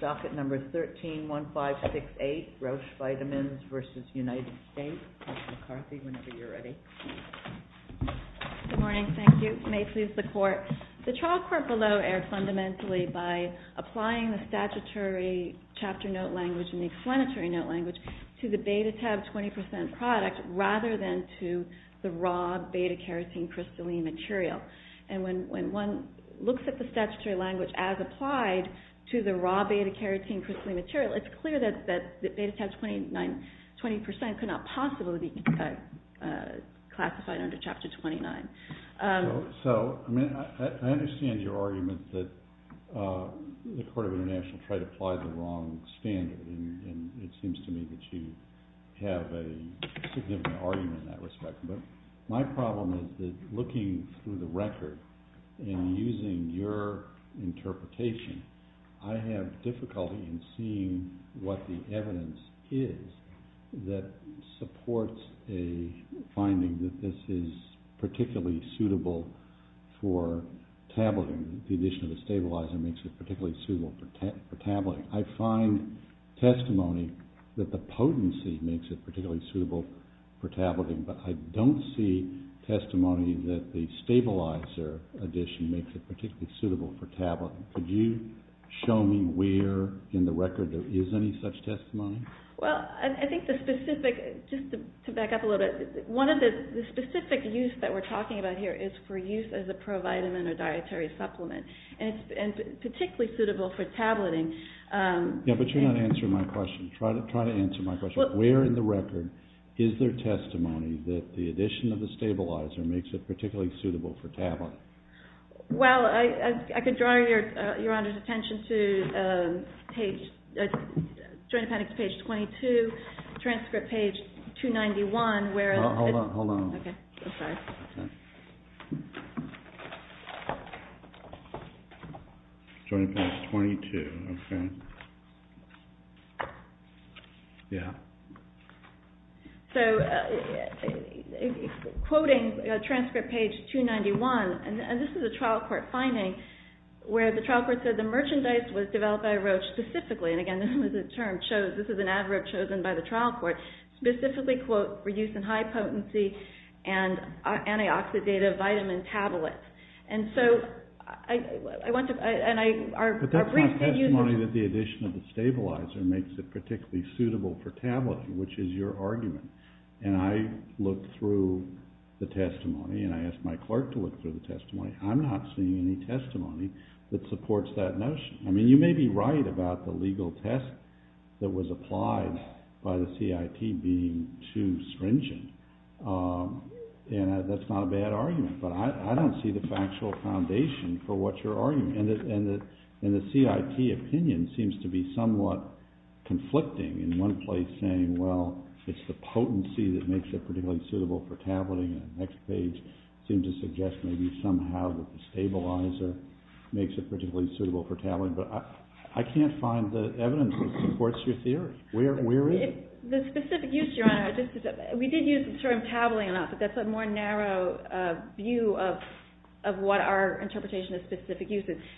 Docket Number 131568, Roche Vitamins v. United States, Dr. McCarthy, whenever you're ready. Good morning. Thank you. May it please the Court. The trial court below erred fundamentally by applying the statutory chapter note language and the explanatory note language to the Beta Teb 20% product rather than to the raw beta-kerosene-crystalline material. And when one looks at the statutory language as applied to the raw beta-kerosene-crystalline material, it's clear that Beta Teb 20% could not possibly be classified under Chapter 29. So, I mean, I understand your argument that the Court of International Trade applied the wrong standard, and it seems to me that you have a significant argument in that respect. But my problem is that looking through the interpretation, I have difficulty in seeing what the evidence is that supports a finding that this is particularly suitable for tabulating. The addition of a stabilizer makes it particularly suitable for tabulating. I find testimony that the potency makes it particularly suitable for tabulating, but I don't see testimony that the stabilizer addition makes it particularly suitable for tabulating. Could you show me where in the record there is any such testimony? Well, I think the specific, just to back up a little bit, one of the specific use that we're talking about here is for use as a provitamin or dietary supplement, and it's particularly suitable for tabulating. Yeah, but you're not answering my question. Try to answer my question. Where in the record is there testimony that the addition of the stabilizer makes it particularly suitable for tabulating? Well, I could draw Your Honor's attention to page, Joint Appendix page 22, transcript page 291, where... Hold on, hold on. Okay, I'm sorry. Joint Appendix 22, okay. Yeah. So, quoting transcript page 291, and this is a trial court finding, where the trial court said the merchandise was developed by Roche specifically, and again, this is a term chosen, this is an adverb chosen by the trial court, specifically, quote, for use in high potency and antioxidative vitamin tablets. And so, I want to, and I... But that's not testimony that the addition of the stabilizer makes it particularly suitable for tabulating, which is your argument. And I looked through the testimony, and I asked my clerk to look through the testimony. I'm not seeing any testimony that supports that notion. I mean, you may be right about the legal test that was applied by the CIT being too stringent, and that's not a bad argument, but I don't see the factual foundation for what you're arguing. And the CIT opinion seems to be somewhat conflicting, in one place saying, well, it's the potency that makes it particularly suitable for tabulating, and the next page seems to suggest maybe somehow that the stabilizer makes it particularly suitable for tabulating. But I can't find the evidence that supports your theory. Where is it? The specific use, Your Honor, we did use the term tabulating enough, but that's a more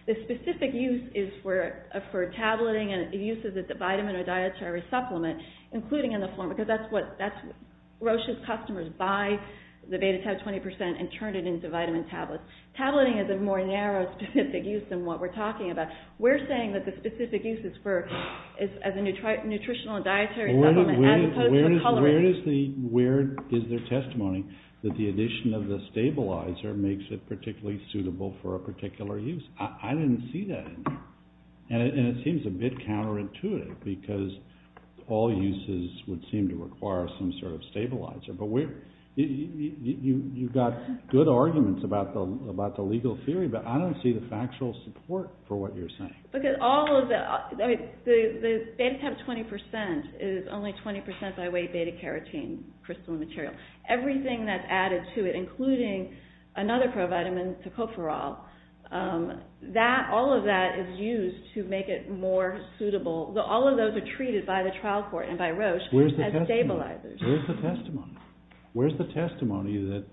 The specific use is for tabulating and the use of the vitamin or dietary supplement, including in the form, because that's what, Roche's customers buy the BetaTab 20% and turn it into vitamin tablets. Tableting is a more narrow specific use than what we're talking about. We're saying that the specific use is for, is as a nutritional and dietary supplement as opposed to the coloring. Where is the testimony that the addition of the stabilizer makes it particularly suitable for a particular use? I didn't see that in there. And it seems a bit counterintuitive because all uses would seem to require some sort of stabilizer. But you've got good arguments about the legal theory, but I don't see the factual support for what you're saying. Because all of the, the BetaTab 20% is only 20% by weight beta carotene crystal material. Everything that's added to it, including another pro vitamin to cope for all, that, all of that is used to make it more suitable. All of those are treated by the trial court and by Roche as stabilizers. Where's the testimony? Where's the testimony? Where's the testimony that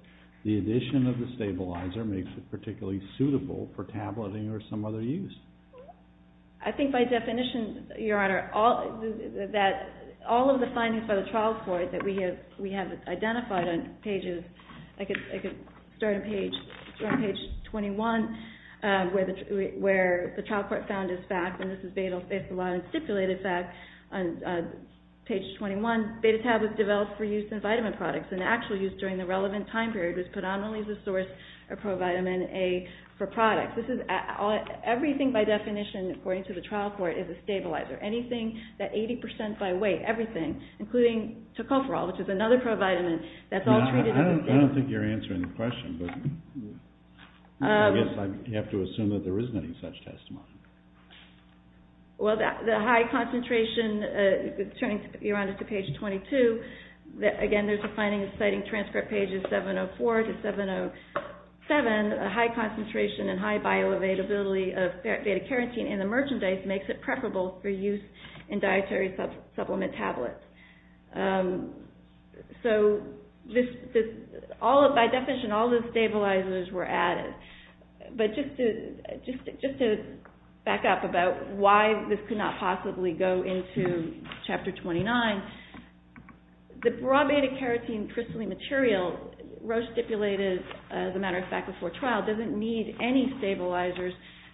the addition of the stabilizer makes it particularly suitable for tabulating or some other use? I think by definition, Your Honor, that all of the findings by the trial court that we have identified on pages, I could start on page 21, where the trial court found this fact, and this is stipulated fact on page 21, BetaTab was developed for use in vitamin products and actually used during the relevant time period was predominantly the source of pro vitamin A for products. Everything by definition, according to the trial court, is a stabilizer. Anything that I don't think you're answering the question, but I guess I have to assume that there isn't any such testimony. Well, the high concentration, turning, Your Honor, to page 22, again, there's a finding citing transcript pages 704 to 707, a high concentration and high bioavailability of beta carotene in the merchandise makes it preferable for use in dietary supplement tablets. So, by definition, all the stabilizers were added, but just to back up about why this could not possibly go into Chapter 29, the raw beta carotene crystalline material, Roche stipulated, as a matter of fact, before trial, doesn't need any stabilizers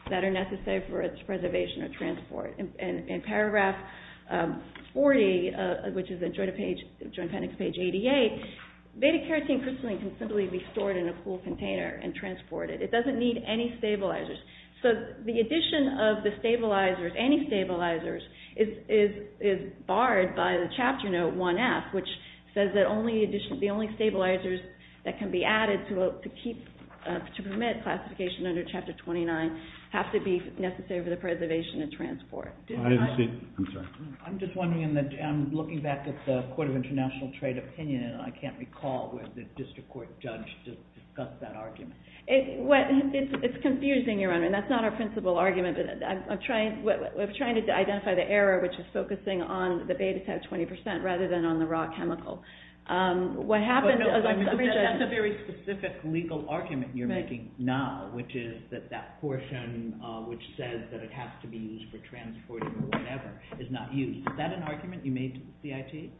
that are necessary for its preservation or transport. In paragraph 40, which is in Joint Appendix page 88, beta carotene crystalline can simply be stored in a cool container and transported. It doesn't need any stabilizers. So the addition of the stabilizers, any stabilizers, is barred by the Chapter Note 1F, which says that the only stabilizers that can be added to permit classification under Chapter 29 have to be necessary for the preservation and transport. I'm just wondering, looking back at the Court of International Trade opinion, I can't recall where the district court judge discussed that argument. It's confusing, Your Honor, and that's not our principal argument, but I'm trying to identify the error, which is focusing on the beta type 20% rather than on the raw chemical. But that's a very specific legal argument you're making now, which is that that portion which says that it has to be used for transporting or whatever is not used. Is that an argument you made to the CIT?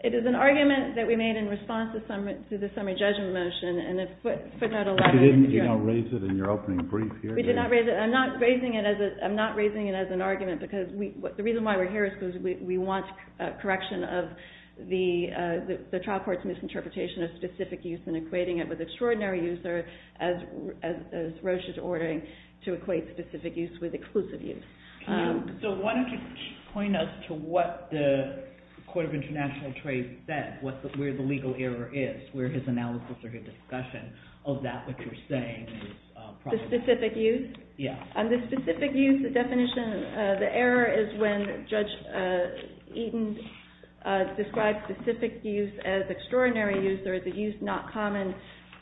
It is an argument that we made in response to the summary judgment motion, and it's footnote 11. You didn't raise it in your opening brief here? We did not raise it. I'm not raising it as an argument, because the reason why we're here is because we want correction of the trial court's misinterpretation of specific use and equating it with extraordinary use, as Roche is ordering, to equate specific use with exclusive use. So why don't you point us to what the Court of International Trade said, where the legal error is, where his analysis or his discussion of that which you're saying is problematic. The specific use? Yeah. The specific use, the definition, the error is when Judge Eaton described specific use as extraordinary use or as a use not common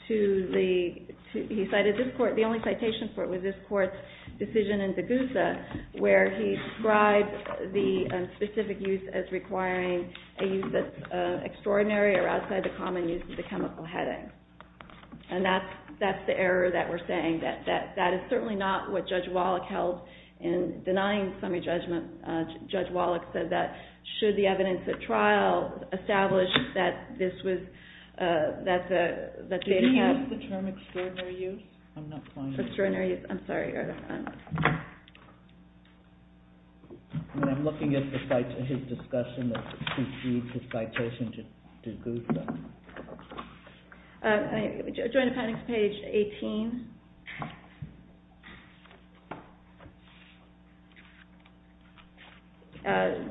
to the, he cited this court, the only citation for it was this court's decision in Degusa, where he described the specific use as requiring a use that's extraordinary or outside the common use of the chemical heading. And that's the error that we're saying. That is certainly not what Judge Wallach held in denying summary judgment. Judge Wallach said that should the evidence at trial establish that this was, that the data had... Did he use the term extraordinary use? I'm not finding... Extraordinary use. I'm sorry, Your Honor. I'm looking at his discussion of CC's citation to Degusa. Joint Appendix, page 18.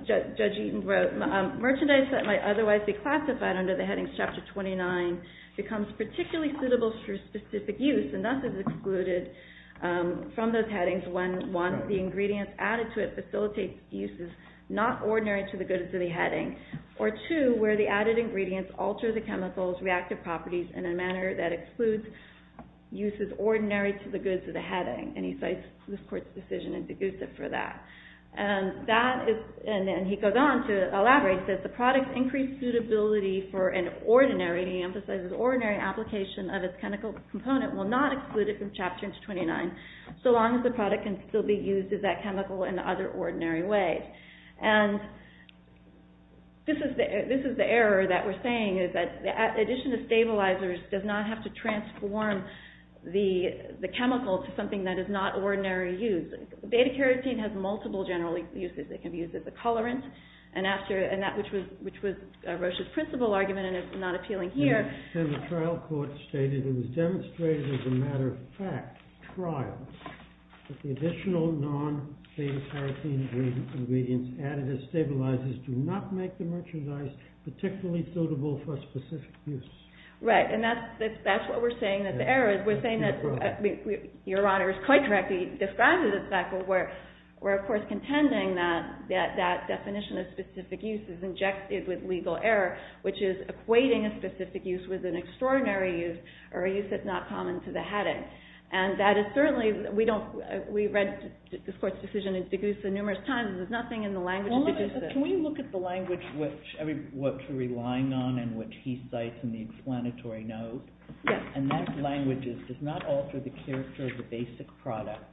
Judge Eaton wrote, merchandise that might otherwise be classified under the headings chapter 29 becomes particularly suitable for specific use and thus is excluded from those headings when, one, the ingredients added to it facilitate uses not ordinary to the chemicals, reactive properties in a manner that excludes uses ordinary to the goods of the heading. And he cites this court's decision in Degusa for that. And that is, and he goes on to elaborate that the product's increased suitability for an ordinary, he emphasizes ordinary application of its chemical component will not exclude it from chapter 29 so long as the product can still be used as that chemical in the other ordinary way. And this is the error that we're saying is that the addition of stabilizers does not have to transform the chemical to something that is not ordinary use. Beta-carotene has multiple general uses. It can be used as a colorant, and after, and that, which was Roche's principal argument and is not appealing here. And the trial court stated, it was demonstrated as a matter of fact, trials, that the additional non-beta-carotene ingredients added as stabilizers do not make the merchandise particularly suitable for specific use. Right, and that's what we're saying that the error is. We're saying that, your Honor is quite correctly describing the fact that we're of course contending that that definition of specific use is injected with legal error, which is equating a specific use with an extraordinary use, or a use that's not common to the hadith. And that is certainly, we don't, we've read this court's decision in Degussa numerous times, there's nothing in the language of Degussa. Can we look at the language which, I mean, what you're relying on and what he cites in the explanatory note? Yes. And that language does not alter the character of the basic product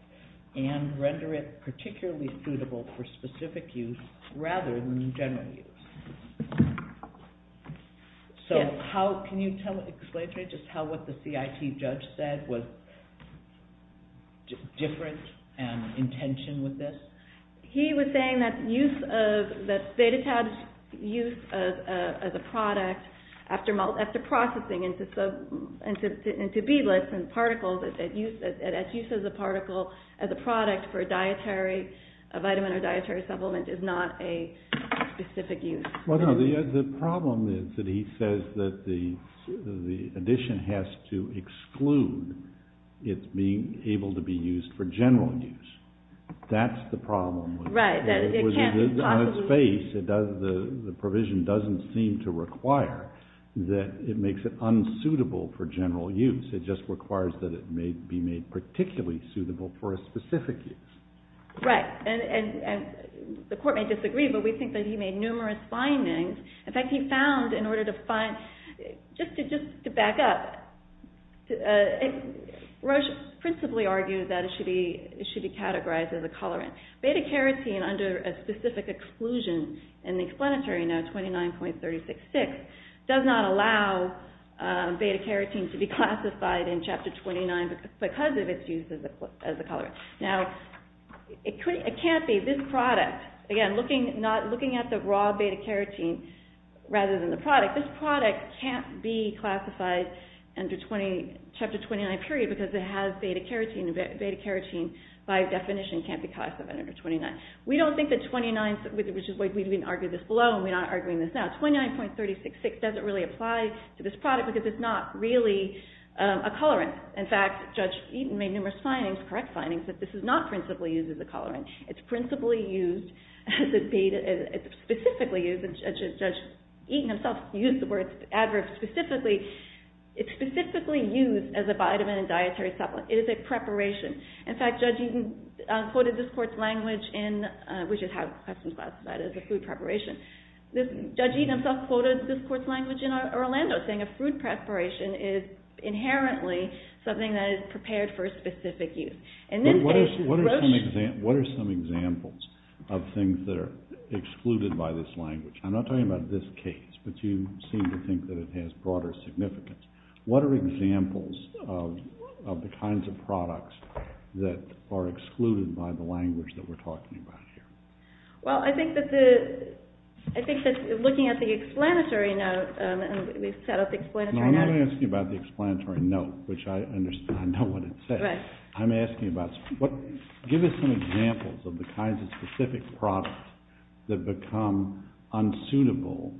and render it particularly suitable for specific use rather than general use. Yes. Can you explain to me just how what the CIT judge said was different in intention with this? He was saying that beta-tabbed use as a product after processing into beadlets and particles, that use as a particle, as a product for a dietary, a vitamin or dietary supplement is not a specific use. Well, no, the problem is that he says that the addition has to exclude its being able to be used for general use. That's the problem. Right. On its face, it does, the provision doesn't seem to require that it makes it unsuitable for general use. It just requires that it may be made particularly suitable for a specific use. Right. And the court may disagree, but we think that he made numerous findings. In fact, he found in order to find, just to back up, Roche principally argued that it should be categorized as a colorant. Beta-carotene under a specific exclusion in the explanatory note, 29.366, does not allow beta-carotene to be classified in Chapter 29 because of its use as a colorant. Now, it can't be this product, again, looking at the raw beta-carotene rather than the product, this product can't be classified under Chapter 29 period because it has beta-carotene, and beta-carotene by definition can't be classified under 29. We don't think that 29, which is why we've been arguing this below and we're not arguing this now, 29.366 doesn't really apply to this product because it's not really a colorant. In fact, Judge Eaton made numerous correct findings that this is not principally used as a colorant. It's principally used as a beta, it's specifically used, and Judge Eaton himself used the word adverb specifically, it's specifically used as a vitamin and dietary supplement. It is a preparation. In fact, Judge Eaton quoted this court's language in, we should have questions about that, as a food preparation. Judge Eaton himself quoted this court's language in Orlando, saying a food preparation is inherently something that is prepared for a specific use. What are some examples of things that are excluded by this language? I'm not talking about this case, but you seem to think that it has broader significance. What are examples of the kinds of products that are excluded by the language that we're talking about here? Well, I think that looking at the explanatory note, and we've set up the explanatory note. No, I'm not asking about the explanatory note, which I understand, I know what it says. Right. I'm asking about, give us some examples of the kinds of specific products that become unsuitable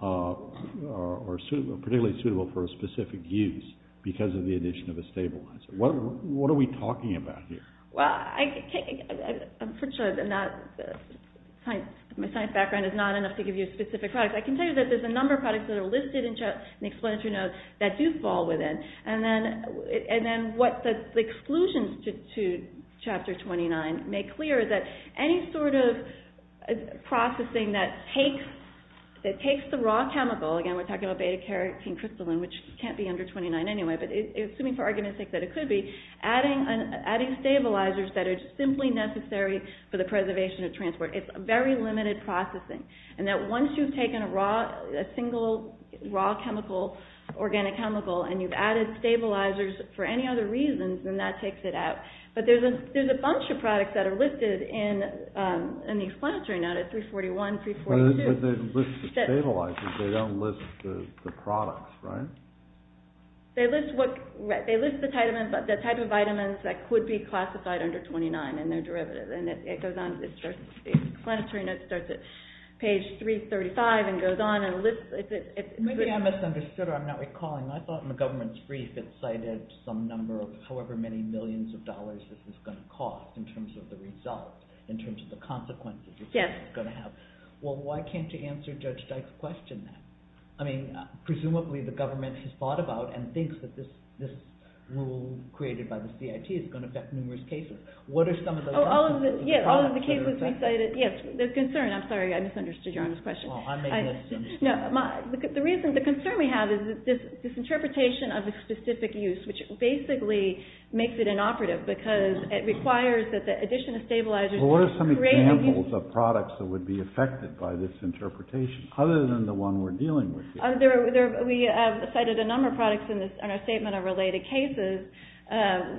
or particularly suitable for a specific use because of the addition of a stabilizer. What are we talking about here? Well, I'm pretty sure that my science background is not enough to give you specific products. I can tell you that there's a number of products that are listed in the explanatory notes that do fall within, and then what the exclusions to Chapter 29 make clear is that any sort of processing that takes the raw chemical, again, we're talking about beta-carotene crystalline, which can't be under 29 anyway, but assuming for argument's sake that it could be, adding stabilizers that are simply necessary for the preservation of transport. It's very limited processing. And that once you've taken a single raw chemical, organic chemical, and you've added stabilizers for any other reasons, then that takes it out. But there's a bunch of products that are listed in the explanatory notes, 341, 342. But they list the stabilizers, they don't list the products, right? They list the type of vitamins that could be classified under 29 in their derivative. And it goes on, the explanatory note starts at page 335 and goes on and lists... Maybe I misunderstood, or I'm not recalling. I thought in the government's brief it cited some number of however many millions of dollars this is going to cost in terms of the result, in terms of the consequences this is going to have. Well, why can't you answer Judge Dyke's question then? I mean, presumably the government has thought about and thinks that this rule created by the CIT is going to affect numerous cases. What are some of the... Oh, all of the cases we cited, yes, there's concern. I'm sorry, I misunderstood your honest question. Oh, I may have misunderstood. No, the reason, the concern we have is this interpretation of the specific use, which basically makes it inoperative because it requires that the addition of stabilizers Well, what are some examples of products that would be affected by this interpretation other than the one we're dealing with here? We have cited a number of products in our statement of related cases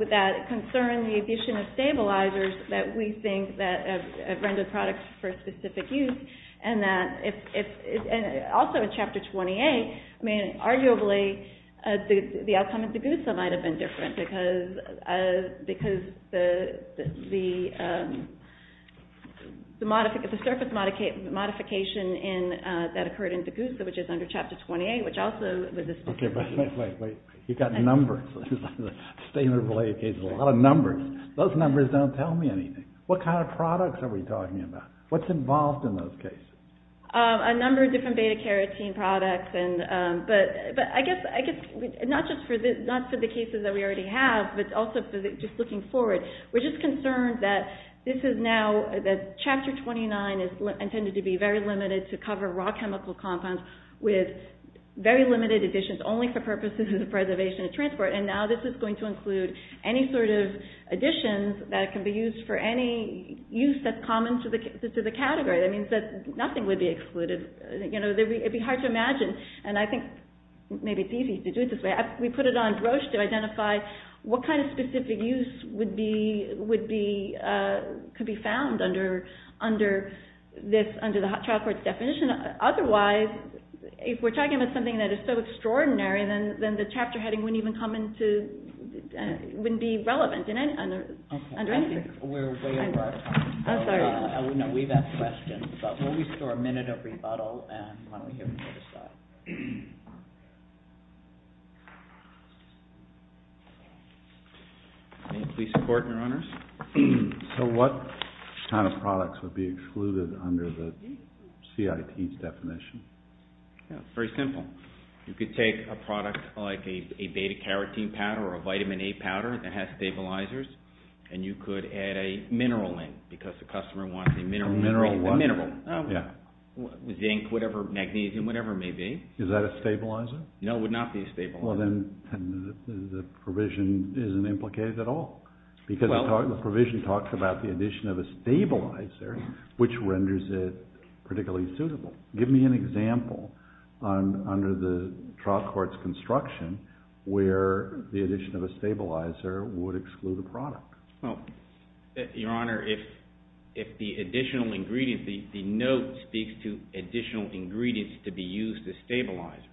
that concern the addition of stabilizers that we think have rendered products for specific use. And also in Chapter 28, I mean, arguably, the outcome of DGUSA might have been different because the surface modification that occurred in DGUSA, which is under Chapter 28, which also was a... Okay, wait, wait, wait. You've got numbers. Statement of related cases, a lot of numbers. Those numbers don't tell me anything. What kind of products are we talking about? What's involved in those cases? A number of different beta-carotene products. But I guess, not just for the cases that we already have, but also just looking forward, we're just concerned that this is now, that Chapter 29 is intended to be very limited to cover raw chemical compounds with very limited additions, only for purposes of preservation and transport. And now this is going to include any sort of additions that can be used for any use that's common to the category. That means that nothing would be excluded. You know, it'd be hard to imagine. And I think maybe it's easy to do it this way. We put it on broach to identify what kind of specific use would be, could be found under this, under the trial court's definition. Otherwise, if we're talking about something that is so extraordinary, then the chapter heading wouldn't even come into, wouldn't be relevant under anything. I think we're way over our time. No, we've had questions. But we'll restore a minute of rebuttal and when we hear from you, we'll decide. May I please support, Your Honors? So what kind of products would be excluded under the CIT's definition? Yeah, it's very simple. You could take a product like a beta-carotene powder or a vitamin A powder that has stabilizers and you could add a mineral in, because the customer wants a mineral. A mineral what? A mineral. Zinc, whatever, magnesium, whatever it may be. Is that a stabilizer? No, it would not be a stabilizer. Well, then the provision isn't implicated at all. Because the provision talks about the addition of a stabilizer, which renders it particularly suitable. Give me an example under the trial court's construction where the addition of a stabilizer would exclude a product. Well, Your Honor, if the additional ingredient, the note speaks to additional ingredients to be used as stabilizers.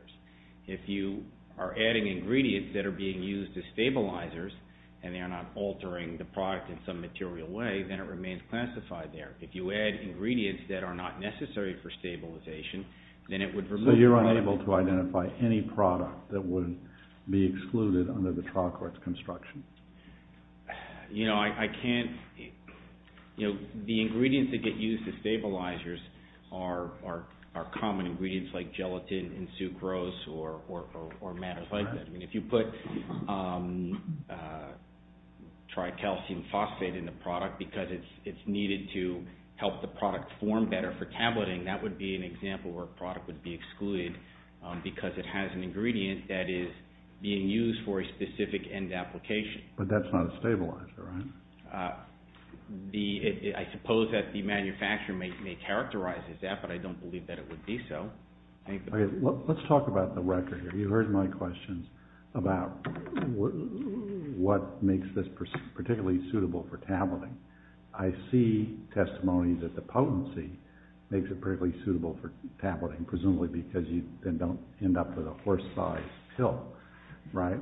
If you are adding ingredients that are being used as stabilizers and they are not altering the product in some material way, then it remains classified there. If you add ingredients that are not necessary for stabilization, then it would remove... So you are unable to identify any product that would be excluded under the trial court's construction? You know, I can't... The ingredients that get used as stabilizers are common ingredients like gelatin and sucrose or matters like that. If you put tricalcium phosphate in the product because it's needed to help the product form better for tableting, that would be an example where a product would be excluded because it has an ingredient that is being used for a specific end application. But that's not a stabilizer, right? I suppose that the manufacturer may characterize as that, but I don't believe that it would be so. Let's talk about the record here. You heard my questions about what makes this particularly suitable for tableting. I see testimony that the potency makes it particularly suitable for tableting, presumably because you then don't end up with a horse-sized pill, right?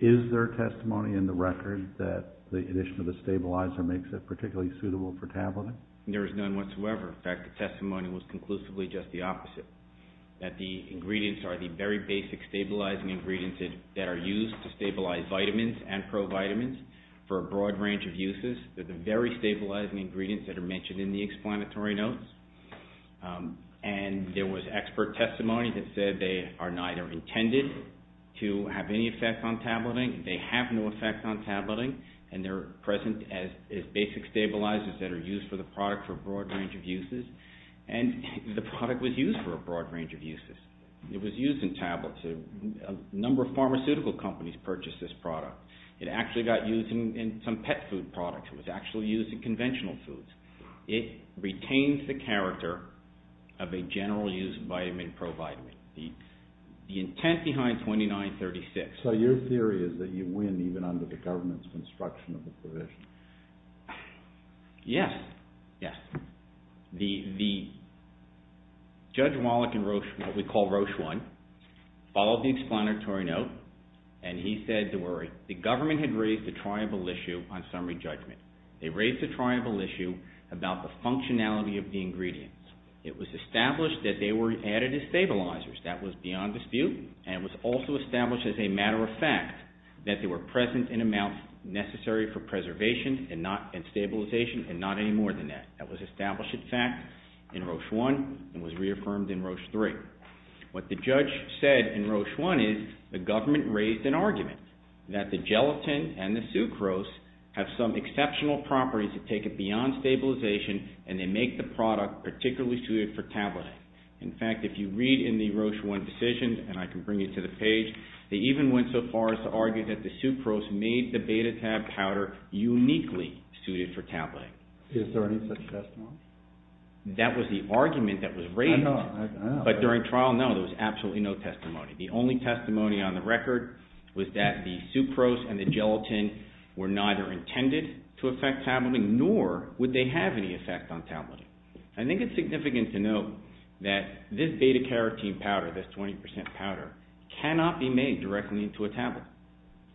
Is there testimony in the record that the addition of the stabilizer makes it particularly suitable for tableting? There is none whatsoever. In fact, the testimony was conclusively just the opposite, that the ingredients are the very basic stabilizing ingredients that are used to stabilize vitamins and provitamins for a broad range of uses. They're the very stabilizing ingredients that are mentioned in the explanatory notes. And there was expert testimony that said they are neither intended to have any effect on tableting, they have no effect on tableting, and they're present as basic stabilizers that are used for the product for a broad range of uses. And the product was used for a broad range of uses. It was used in tablets. A number of pharmaceutical companies purchased this product. It actually got used in some pet food products. It was actually used in conventional foods. It retains the character of a general use vitamin, provitamin. The intent behind 2936. So your theory is that you win even under the government's construction of the provision? Yes. Yes. The Judge Wallach and what we call Rochon followed the explanatory note, and he said to worry. The government had raised a triangle issue on summary judgment. They raised a triangle issue about the functionality of the ingredients. It was established that they were added as stabilizers. That was beyond dispute, and it was also established as a matter of fact that they were present in amounts necessary for preservation and stabilization, and not any more than that. That was established in fact in Rochon, and was reaffirmed in Rochon 3. What the Judge said in Rochon is the government raised an argument that the gelatin and the sucrose have some exceptional properties that take it beyond stabilization, and they make the product particularly suited for tableting. In fact, if you read in the Rochon decision, and I can bring you to the page, they even went so far as to argue that the sucrose made the beta tab powder uniquely suited for tableting. Is there any such testimony? That was the argument that was raised, but during trial, no, there was absolutely no testimony. The only testimony on the record was that the sucrose and the gelatin were neither intended to affect tableting, nor would they have any effect on tableting. I think it's significant to note that this beta carotene powder, this 20% powder, cannot be made directly into a tablet.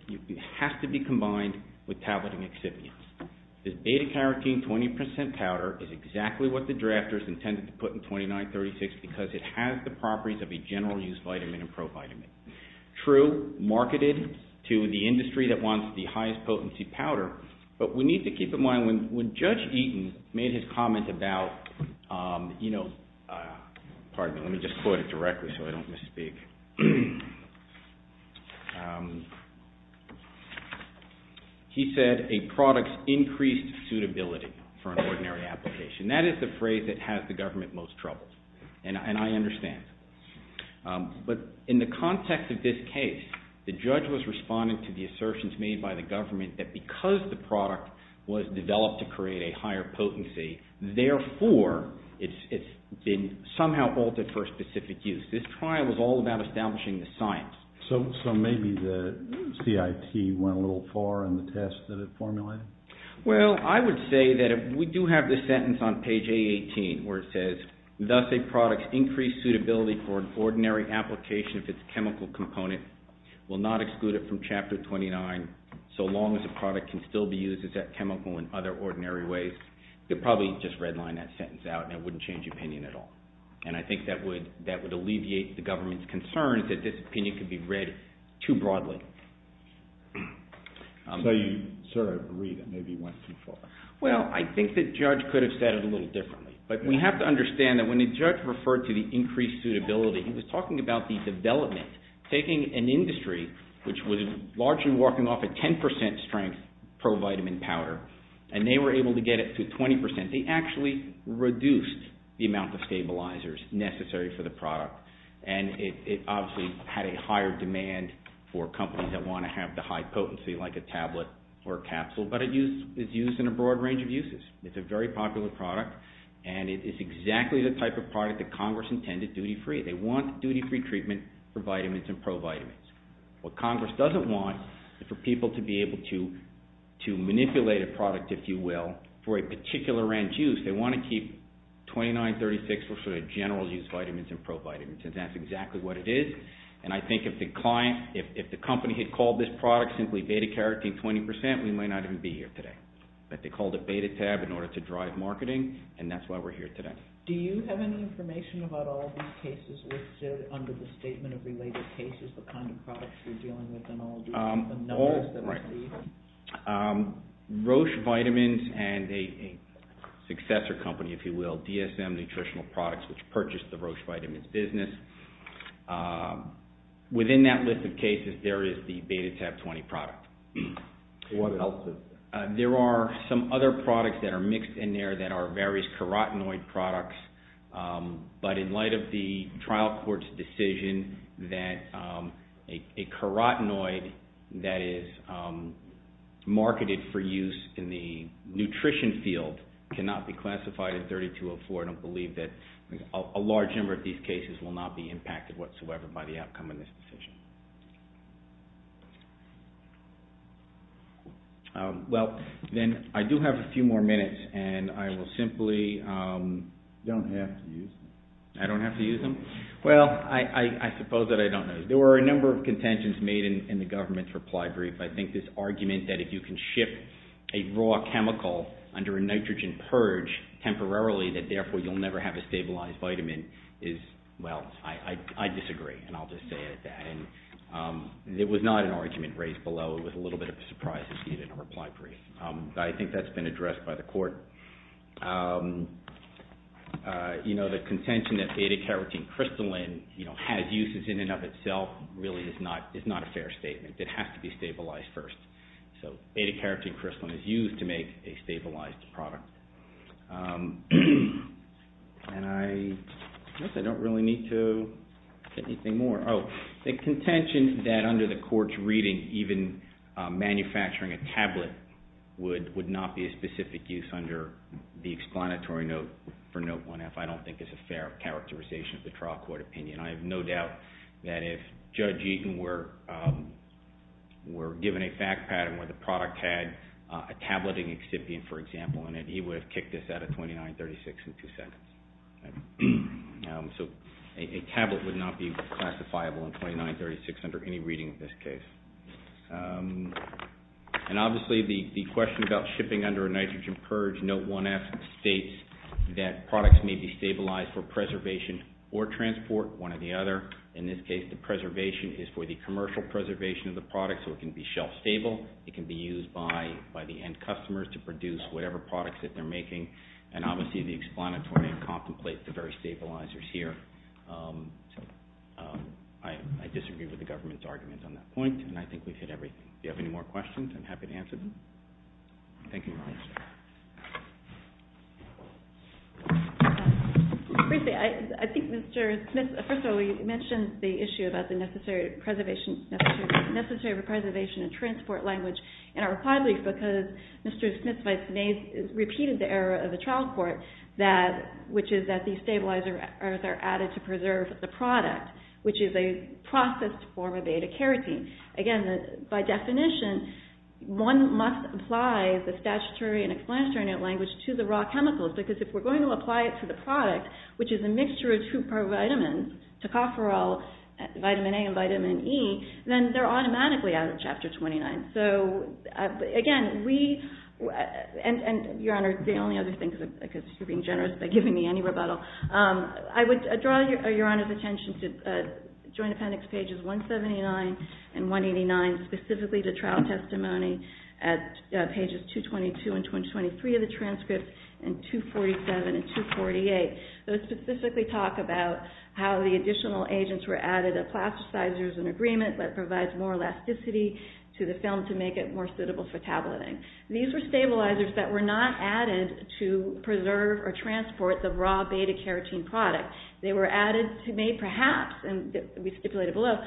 It has to be combined with tableting excipients. This beta carotene 20% powder is exactly what the drafters intended to put in 2936 because it has the properties of a general use vitamin and pro vitamin. True, marketed to the industry that wants the highest potency powder, but we need to keep in mind when Judge Eaton made his comment about, pardon me, let me just quote it directly so I don't misspeak. He said a product's increased suitability for an ordinary application. That is the phrase that has the government most trouble, and I understand. But in the context of this case, the judge was responding to the assertions made by the government that because the product was developed to create a higher potency, therefore, it's been somehow altered for a specific use. This trial was all about establishing the science. So maybe the CIT went a little far in the test that it formulated? Well, I would say that if we do have this sentence on page A18 where it says, thus a product's increased suitability for an ordinary application if it's a chemical component will not exclude it from Chapter 29 so long as the product can still be used as that chemical in other ordinary ways. They'd probably just redline that sentence out and it wouldn't change opinion at all. And I think that would alleviate the government's concerns that this opinion could be read too broadly. So you sort of agree that maybe it went too far? Well, I think the judge could have said it a little differently. But we have to understand that when the judge referred to the increased suitability, he was talking about the development, taking an industry which was largely walking off at 10% strength pro-vitamin powder, and they were able to get it to 20%. What they did is they actually reduced the amount of stabilizers necessary for the product and it obviously had a higher demand for companies that want to have the high potency like a tablet or a capsule, but it's used in a broad range of uses. It's a very popular product and it is exactly the type of product that Congress intended duty-free. They want duty-free treatment for vitamins and pro-vitamins. What Congress doesn't want is for people to be able to manipulate a product, if you will, for a particular range of use, they want to keep 29, 36 for general use vitamins and pro-vitamins and that's exactly what it is. And I think if the company had called this product simply beta-carotene 20%, we might not even be here today. But they called it beta-tab in order to drive marketing and that's why we're here today. Do you have any information about all these cases listed under the statement of related cases, the kind of products you're dealing with and all the numbers that we see? Roche Vitamins and a successor company, if you will, DSM Nutritional Products, which purchased the Roche Vitamins business. Within that list of cases, there is the beta-tab 20 product. What else is there? There are some other products that are mixed in there that are various carotenoid products, but in light of the trial court's decision that a carotenoid that is marketed for use in the nutrition field cannot be classified as 3204, I don't believe that a large number of these cases will not be impacted whatsoever by the outcome of this decision. Well, then I do have a few more minutes and I will simply... You don't have to use them. I don't have to use them? Well, I suppose that I don't know. There were a number of contentions made in the government's reply brief. I think this argument that if you can ship a raw chemical under a nitrogen purge temporarily that therefore you'll never have a stabilized vitamin is, well, I disagree and I'll just say it at that. It was not an argument raised below. It was a little bit of a surprise to see it in a reply brief. I think that's been addressed by the court. You know, the contention that beta-carotene crystalline has uses in and of itself really is not a fair statement. It has to be stabilized first. So beta-carotene crystalline is used to make a stabilized product. And I guess I don't really need to say anything more. Oh, the contention that under the court's reading even manufacturing a tablet would not be a specific use under the explanatory note for Note 1F I don't think is a fair characterization of the trial court opinion. I have no doubt that if Judge Eaton were given a fact pattern where the product had a tableting excipient, for example, in it, he would have kicked us out of 29-36 in two seconds. So a tablet would not be classifiable in 29-36 under any reading of this case. And obviously the question about shipping under a nitrogen purge, Note 1F states that products may be stabilized for preservation or transport, one or the other. In this case, the preservation is for the commercial preservation of the product, so it can be shelf-stable. It can be used by the end customers to produce whatever products that they're making. And obviously the explanatory contemplates the very stabilizers here. I disagree with the government's argument on that point, and I think we've hit everything. If you have any more questions, I'm happy to answer them. Thank you. Briefly, I think Mr. Smith, first of all, you mentioned the issue about the necessary preservation and transport language and I reply briefly because Mr. Smith's vice-mayor has repeated the error of the trial court, which is that these stabilizers are added to preserve the product, which is a processed form of beta-carotene. Again, by definition, one must apply the statutory and explanatory language to the raw chemicals because if we're going to apply it to the product, which is a mixture of two pro-vitamins, tocopherol, vitamin A and vitamin E, then they're automatically out of Chapter 29. Again, we, and Your Honor, the only other thing, because you're being generous by giving me any rebuttal, I would draw Your Honor's attention to Joint Appendix pages 179 and 189, specifically the trial testimony at pages 222 and 223 of the transcript, and 247 and 248. Those specifically talk about how the additional agents were added of plasticizers and agreement that provides more elasticity to the film to make it more suitable for tableting. These were stabilizers that were not added to preserve or transport the raw beta-carotene product. They were added to make, perhaps, and we stipulated below,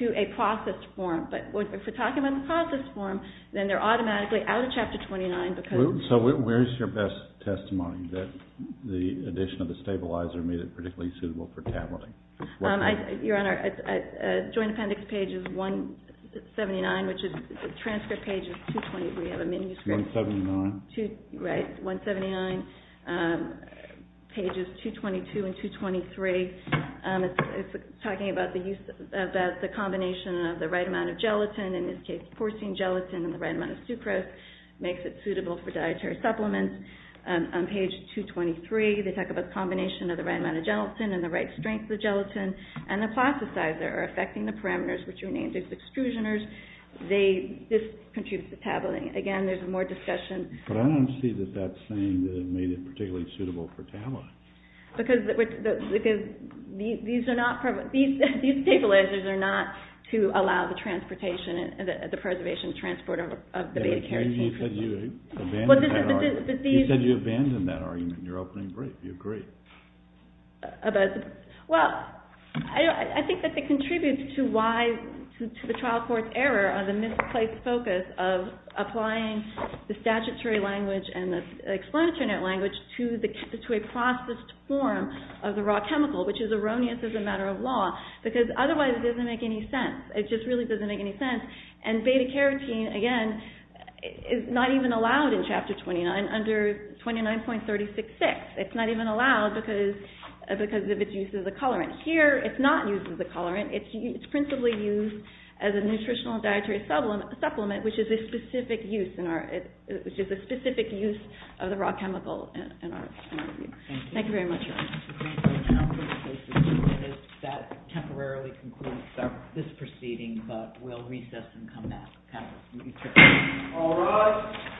to a processed form. But if we're talking about the processed form, then they're automatically out of Chapter 29 because... So where's your best testimony that the addition of the stabilizer made it particularly suitable for tableting? Your Honor, Joint Appendix pages 179, which is, the transcript page is 223. We have a manuscript. 179. Right, 179, pages 222 and 223. It's talking about the use, about the combination of the right amount of gelatin, in this case, porcine gelatin, and the right amount of sucrose makes it suitable for dietary supplements. On page 223, they talk about the combination of the right amount of gelatin and the right strength of gelatin, and the plasticizer are affecting the parameters, which are named as extrusioners. This contributes to tabling. Again, there's more discussion. But I don't see that that's saying that it made it particularly suitable for tabling. Because these stabilizers are not to allow the transportation, the preservation and transport of the beta-carotene. He said you abandoned that argument in your opening brief. Do you agree? Well, I think that it contributes to the trial court's error on the misplaced focus of applying the statutory language and the explanatory net language to a processed form of the raw chemical, which is erroneous as a matter of law. Because otherwise it doesn't make any sense. It just really doesn't make any sense. And beta-carotene, again, is not even allowed in Chapter 29 under 29.366. It's not even allowed because of its use as a colorant. Here, it's not used as a colorant. It's principally used as a nutritional and dietary supplement, which is a specific use of the raw chemical. Thank you very much. That temporarily concludes this proceeding, but we'll recess and come back. All rise.